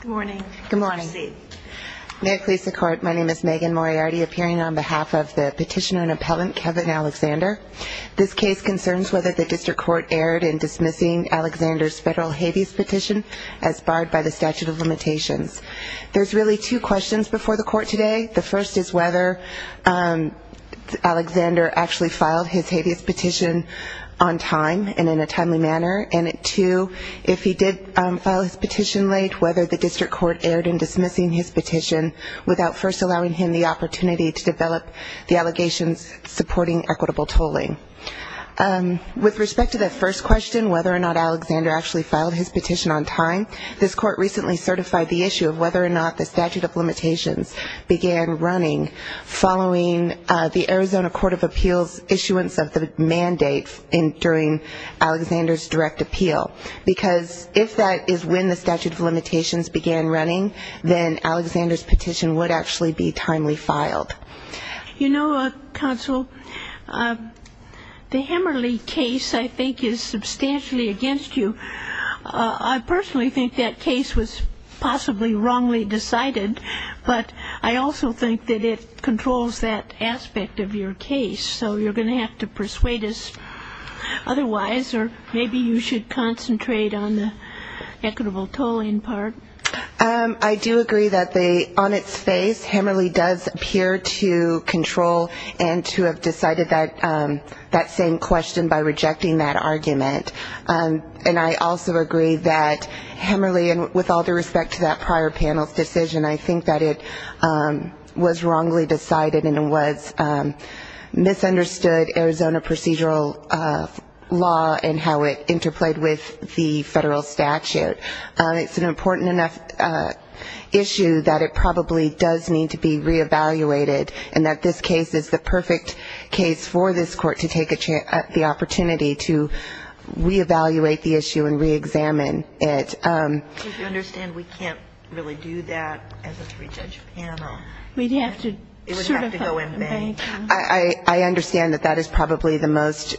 Good morning. May it please the Court, my name is Megan Moriarty, appearing on behalf of the petitioner and appellant Kevin Alexander. This case concerns whether the District Court erred in dismissing Alexander's federal habeas petition as barred by the statute of limitations. There's really two questions before the Court today. The first is whether Alexander actually filed his habeas petition on time and in a timely manner. And two, if he did file his petition on time, whether the District Court erred in dismissing his petition without first allowing him the opportunity to develop the allegations supporting equitable tolling. With respect to that first question, whether or not Alexander actually filed his petition on time, this Court recently certified the issue of whether or not the statute of limitations began running following the Arizona Court of Appeals' issuance of the mandate during Alexander's direct appeal. Because if that is when the statute of limitations began running, then Alexander's petition would actually be timely filed. You know, Counsel, the Hammerley case, I think, is substantially against you. I personally think that case was possibly wrongly decided, but I also think that it controls that aspect of your case. So you're going to have to persuade us otherwise, or maybe you should concentrate on the equitable tolling part. I do agree that on its face, Hammerley does appear to control and to have decided that same question by rejecting that argument. And I also agree that Hammerley, with all due respect, probably decided and was misunderstood Arizona procedural law and how it interplayed with the federal statute. It's an important enough issue that it probably does need to be re-evaluated, and that this case is the perfect case for this Court to take the opportunity to re-evaluate the issue and re-examine it. Do you understand we can't really do that as a three-judge panel? We'd have to sort of go in-bank. I understand that that is probably the most...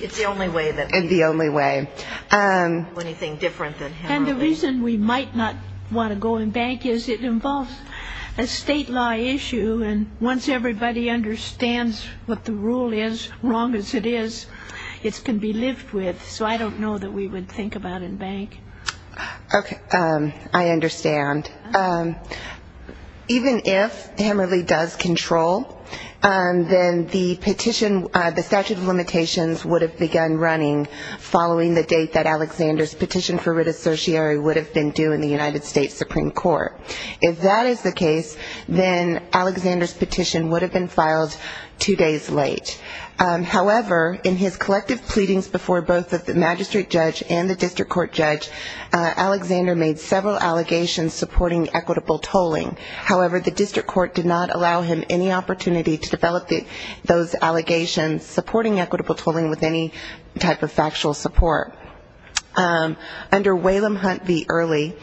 It's the only way that we can do anything different than Hammerley. And the reason we might not want to go in-bank is it involves a state law issue, and once everybody understands what the rule is, wrong as it is, it can be lived with. So I don't know that we would think about in-bank. Okay. I understand. Even if Hammerley does control, then the statute of limitations would have begun running following the date that Alexander's petition for redissociary would have been due in the United States Supreme Court. If that is the case, then Alexander's petition would have been filed two days late. However, in his collective pleadings before both the magistrate judge and the district court judge, Alexander made several allegations supporting equitable tolling. However, the district court did not allow him any opportunity to develop those allegations supporting equitable tolling with any type of factual support. Under Whalum Hunt v. Early,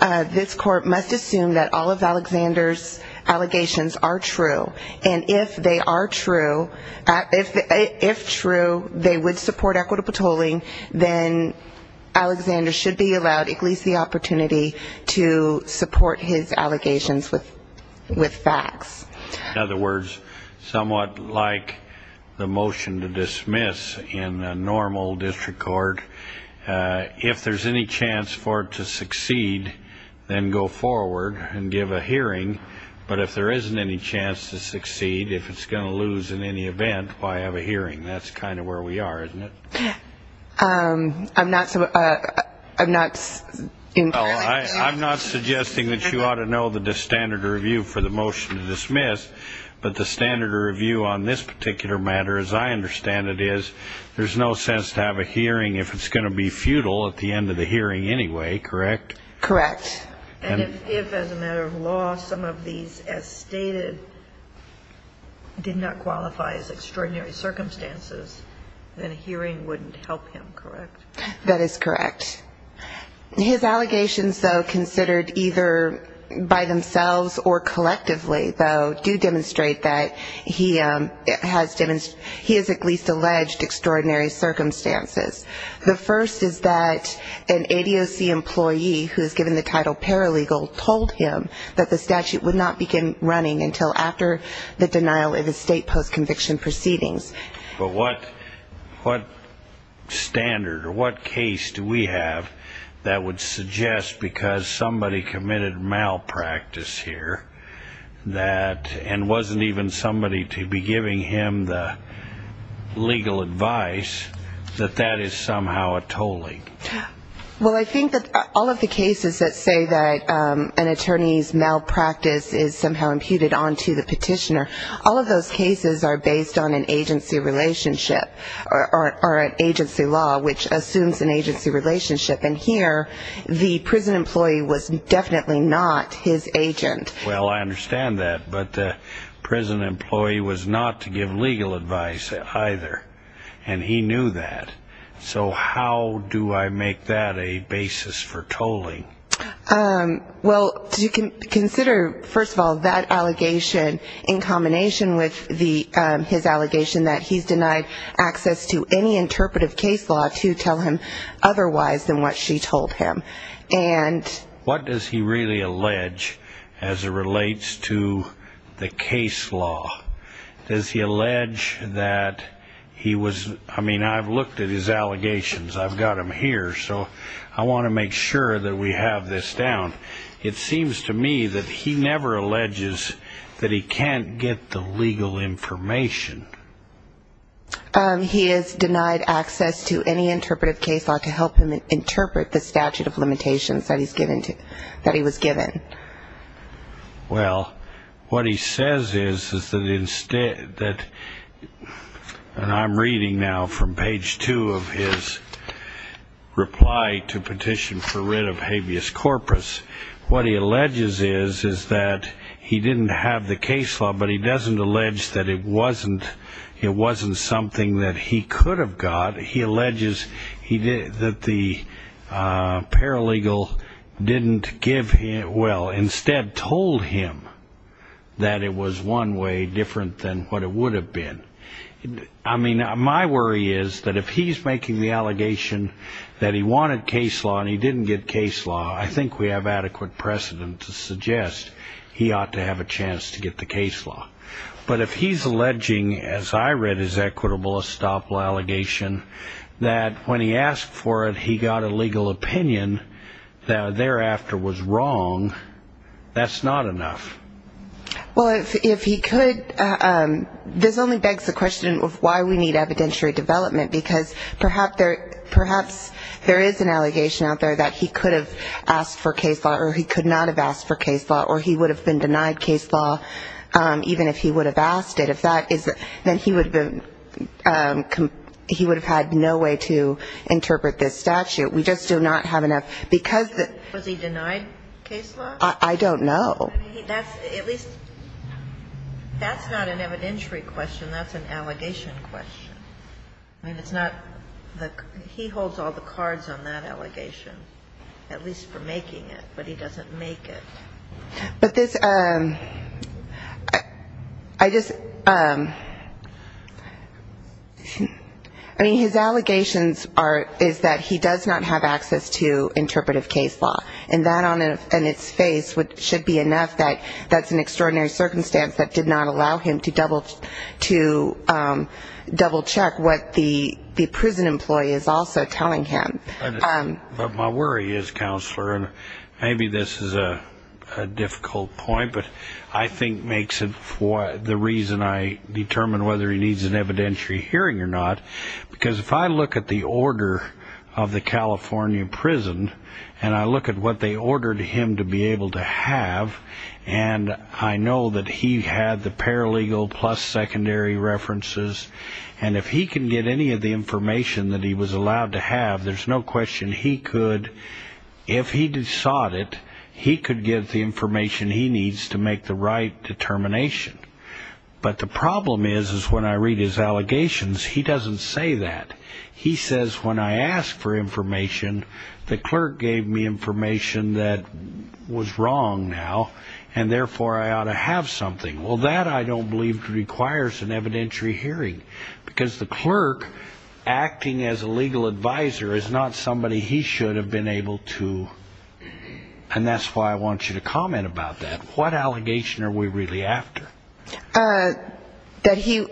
this Court must assume that all of Alexander's allegations are true. And if they are true, if true, they would support equitable tolling, then Alexander should be allowed at least the opportunity to support his allegations with facts. In other words, somewhat like the motion to dismiss in a normal district court, if there's any chance for it to succeed, then go forward and give a hearing. But if there isn't any chance to succeed, if it's going to lose in any event, why have a hearing? That's kind of where we are, isn't it? I'm not entirely sure. I'm not suggesting that you ought to know the standard review for the motion to dismiss, but the standard review on this particular matter, as I understand it, is there's no sense to have a hearing if it's going to be futile at the end of the hearing anyway, correct? Correct. And if, as a matter of law, some of these, as stated, did not qualify as extraordinary circumstances, then a hearing wouldn't help him, correct? That is correct. His allegations, though, considered either by themselves or collectively, though, do demonstrate that he has at least alleged extraordinary circumstances. The first is that an ADOC employee who is given the title paralegal told him that the statute would not begin running until after the denial of his state post-conviction proceedings. But what standard or what case do we have that would suggest because somebody committed malpractice here that, and wasn't even somebody to be giving him the legal advice, that that is somehow a tolling? Well, I think that all of the cases that say that an attorney's malpractice is somehow imputed onto the petitioner, all of those cases are based on an agency relationship or an agency law which assumes an agency relationship. And here, the prison employee was definitely not his agent. Well, I understand that. But the prison employee was not to give legal advice either. And he knew that. So how do I make that a basis for tolling? Well, you can consider, first of all, that allegation in combination with his allegation that he's denied access to any interpretive case law to tell him otherwise than what she told him. And... Does he allege, as it relates to the case law, does he allege that he was, I mean, I've looked at his allegations. I've got them here. So I want to make sure that we have this down. It seems to me that he never alleges that he can't get the legal information. He is denied access to any interpretive case law to help him interpret the statute of limitations that he's given to, that he was given. Well, what he says is, is that instead, that, and I'm reading now from page two of his reply to petition for writ of habeas corpus. What he alleges is, is that he didn't have the case law, but he doesn't allege that it wasn't, it wasn't something that he could have got. He alleges that the paralegal didn't give him, well, instead told him that it was one way different than what it would have been. I mean, my worry is that if he's making the allegation that he wanted case law and he didn't get case law, I think we have adequate precedent to suggest he ought to have a chance to get the case law. But if he's alleging, as I read his equitable estoppel allegation, that when he asked for it, he got a legal opinion that thereafter was wrong, that's not enough. Well, if, if he could, this only begs the question of why we need evidentiary development, because perhaps there, perhaps there is an allegation out there that he could have asked for case law or he could not have asked for case law or he would have been denied case law even if he would have asked it. If that is, then he would have been, he would have had no way to interpret this statute. We just do not have enough, because the... Was he denied case law? I don't know. I mean, that's, at least, that's not an evidentiary question, that's an allegation question. I mean, it's not, he holds all the cards on that allegation, at least for making it, but he doesn't make it. But this, I just, I mean, his allegations are, is that he does not have access to interpretive case law, and that on its face should be enough that that's an extraordinary circumstance that did not allow him to double, to double check what the prison employee is also telling him. But my worry is, Counselor, and maybe this is a difficult point, but I think makes it the reason I determine whether he needs an evidentiary hearing or not, because if I look at the order of the California prison, and I look at what they ordered him to be able to have, and I know that he had the paralegal plus secondary references, and if he can get any of the information that he was allowed to have, there's no question he could, if he sought it, he could get the information he needs to make the right determination. But the problem is, is when I read his allegations, he doesn't say that. He says, when I ask for information, the clerk gave me information that was wrong now, and therefore I ought to have something. Well, that I don't believe requires an evidentiary hearing, because the clerk acting as a legal advisor is not somebody he should have been able to, and that's why I want you to comment about that. What allegation are we really after? That he,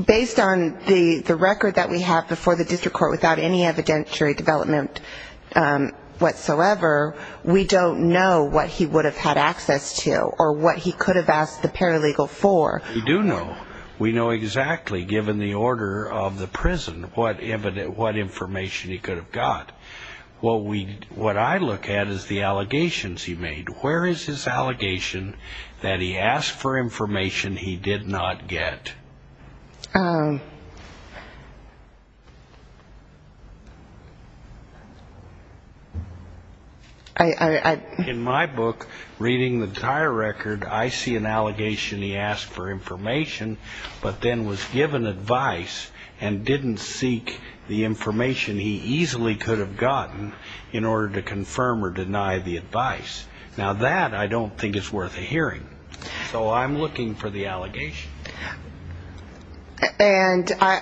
based on the record that we have before the district court without any evidentiary development whatsoever, we don't know what he would have had access to, or what he could have asked the paralegal for. We do know. We know exactly, given the order of the prison, what information he could have got. What I look at is the allegations he made. Where is his allegation that he asked for information he did not get? In my book, reading the entire record, I see an allegation he asked for information, but then was given advice and didn't seek the information he easily could have gotten in Now, that I don't think is worth a hearing, so I'm looking for the allegation. And I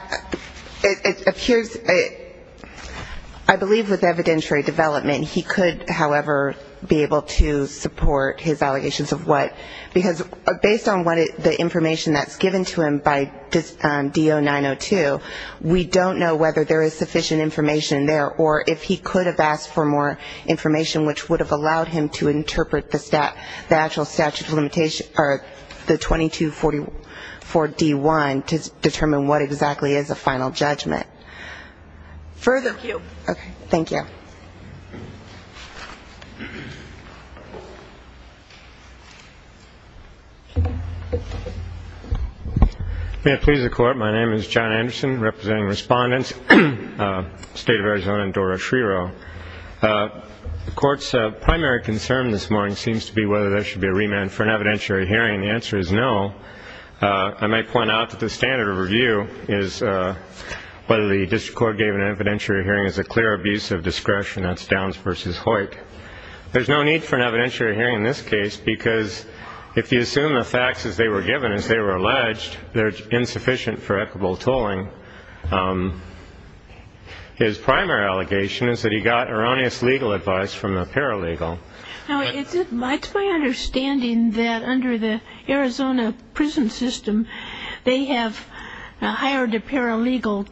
believe with evidentiary development, he could, however, be able to support his allegations of what, because based on the information that's given to him by DO 902, we don't know whether there is sufficient information there, or if he could have asked for more information, which would have allowed him to interpret the actual statute of limitations, or the 2244D1, to determine what exactly is a final judgment. Further? Thank you. Okay. Thank you. May it please the Court, my name is John Anderson, representing respondents, State of Arizona, and Dora Schrero. The Court's primary concern this morning seems to be whether there should be a remand for an evidentiary hearing. The answer is no. I might point out that the standard of review is whether the District Court gave an evidentiary hearing is a clear abuse of discretion, that's Downs v. Hoyt. There's no need for an evidentiary hearing in this case, because if you assume the facts as they were given, as they were alleged, they're insufficient for equitable tolling. His primary allegation is that he got erroneous legal advice from a paralegal. Now, it's my understanding that under the Arizona prison system, they have hired a paralegal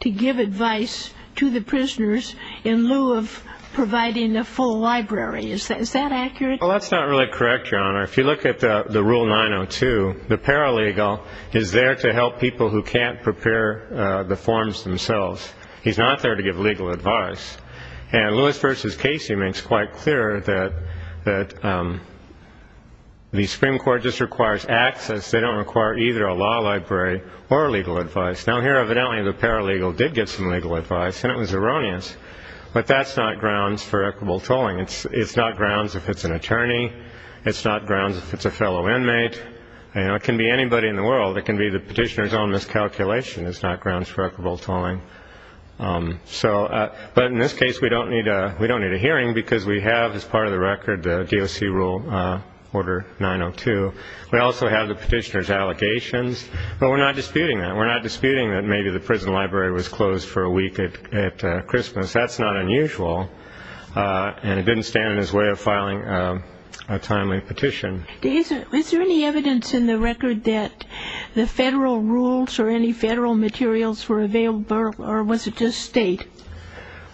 to give advice to the prisoners in lieu of providing a full library. Is that accurate? Well, that's not really correct, Your Honor. If you look at the Rule 902, the paralegal is there to help people who can't prepare the forms themselves. He's not there to give legal advice. And Lewis v. Casey makes quite clear that the Supreme Court just requires access. They don't require either a law library or legal advice. Now, here, evidently, the paralegal did get some legal advice, and it was erroneous. But that's not grounds for equitable tolling. It's not grounds if it's an attorney. It's not grounds if it's a fellow inmate. It can be anybody in the world. It can be the petitioner's own miscalculation. It's not grounds for equitable tolling. But in this case, we don't need a hearing, because we have, as part of the record, the DOC Rule Order 902. We also have the petitioner's allegations. But we're not disputing that. We're not disputing that maybe the prison library was closed for a week at Christmas. That's not unusual. And it didn't stand in his way of filing a timely petition. Is there any evidence in the record that the federal rules or any federal materials were available, or was it just state?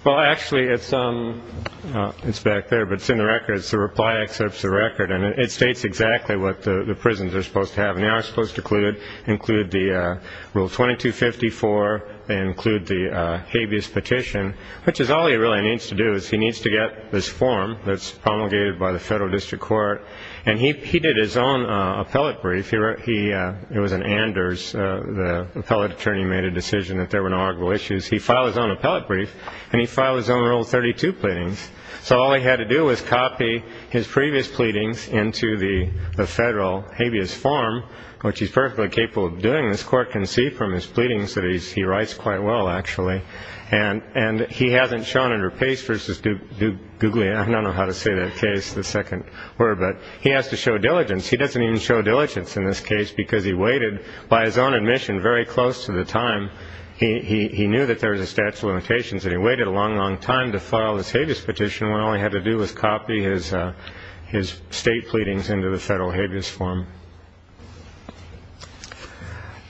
Well, actually, it's back there. But it's in the record. It's the reply that accepts the record. And it states exactly what the prisons are supposed to have. And they are supposed to include the Rule 2254. They include the habeas petition. Which is all he really needs to do is he needs to get this form that's promulgated by the federal district court. And he did his own appellate brief. It was an Anders. The appellate attorney made a decision that there were no arguable issues. He filed his own appellate brief. And he filed his own Rule 32 pleadings. So all he had to do was copy his previous pleadings into the federal habeas form, which he's perfectly capable of doing. This court can see from his pleadings that he writes quite well, actually. And he hasn't shown under pace versus Duglia. I don't know how to say that case, the second word. But he has to show diligence. He doesn't even show diligence in this case because he waited, by his own admission, very close to the time. He knew that there was a statute of limitations. And he waited a long, long time to file this habeas petition when all he had to do was copy his state pleadings into the federal habeas form.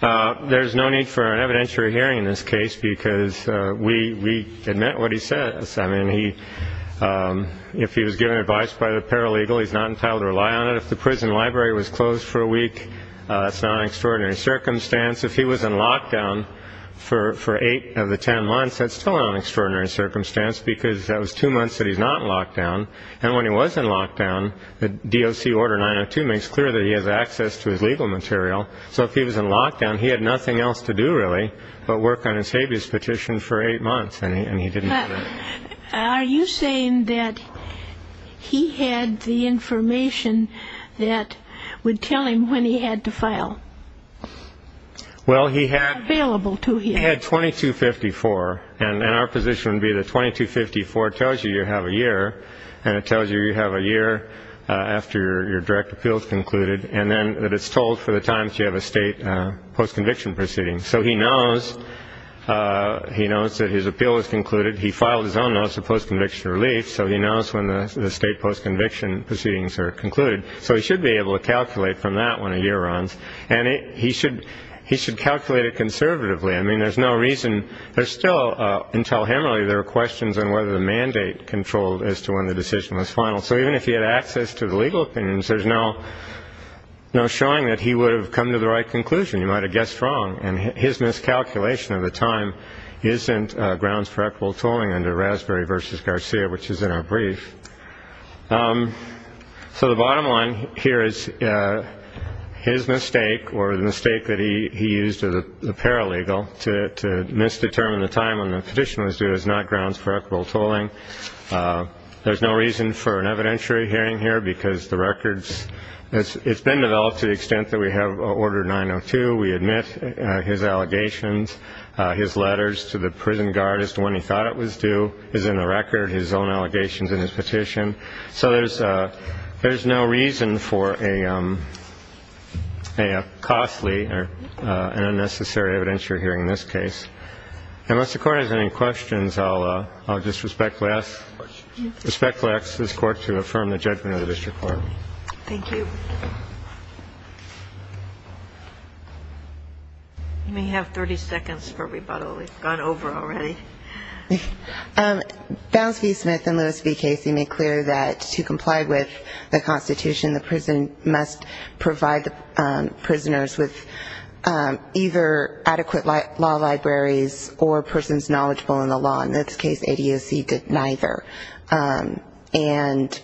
There's no need for an evidentiary hearing in this case because we admit what he says. I mean, if he was given advice by the paralegal, he's not entitled to rely on it. If the prison library was closed for a week, that's not an extraordinary circumstance. If he was in lockdown for eight of the ten months, that's still not an extraordinary circumstance because that was two months that he's not in lockdown. And when he was in lockdown, the DOC Order 902 makes clear that he has access to his legal material. So if he was in lockdown, he had nothing else to do really but work on his habeas petition for eight months, and he didn't do that. Are you saying that he had the information that would tell him when he had to file? Well, he had 2254. And our position would be that 2254 tells you you have a year, and it tells you you have a year after your direct appeal is concluded, and then that it's told for the times you have a state post-conviction proceeding. So he knows that his appeal is concluded. He filed his own notice of post-conviction relief, so he knows when the state post-conviction proceedings are concluded. So he should be able to calculate from that when a year runs. And he should calculate it conservatively. I mean, there's no reason. There's still, until him really, there are questions on whether the mandate controlled as to when the decision was final. So even if he had access to the legal opinions, there's no showing that he would have come to the right conclusion. You might have guessed wrong. And his miscalculation of the time isn't grounds for equitable tolling under Raspberry v. Garcia, which is in our brief. So the bottom line here is his mistake, or the mistake that he used as a paralegal, to misdetermine the time when the petition was due is not grounds for equitable tolling. There's no reason for an evidentiary hearing here because the records, it's been developed to the extent that we have Order 902. We admit his allegations. His letters to the prison guard as to when he thought it was due is in the record. His own allegations in his petition. So there's no reason for a costly and unnecessary evidentiary hearing in this case. Unless the Court has any questions, I'll just respectfully ask this Court to affirm the judgment of the district court. Thank you. You may have 30 seconds for rebuttal. We've gone over already. Bounds v. Smith and Lewis v. Casey made clear that to comply with the Constitution, the prison must provide the prisoners with either adequate law libraries or persons knowledgeable in the law. In this case, ADAC did neither.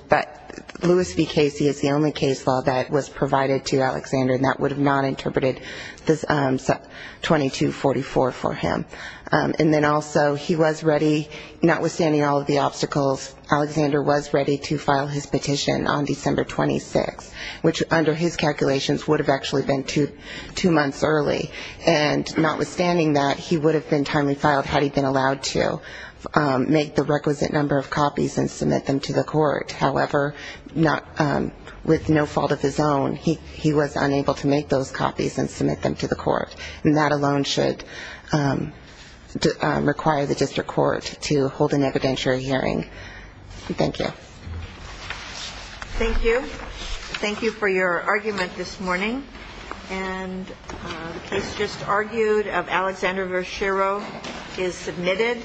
But Lewis v. Casey is the only case law that was provided to Alexander, and that would have not interpreted 2244 for him. And then also he was ready, notwithstanding all of the obstacles, Alexander was ready to file his petition on December 26th, which under his calculations would have actually been two months early. And notwithstanding that, he would have been timely filed had he been allowed to make the requisite number of copies and submit them to the Court. However, with no fault of his own, he was unable to make those copies and submit them to the Court. And that alone should require the district court to hold an evidentiary hearing. Thank you. Thank you. Thank you for your argument this morning. And the case just argued of Alexander v. Shero is submitted.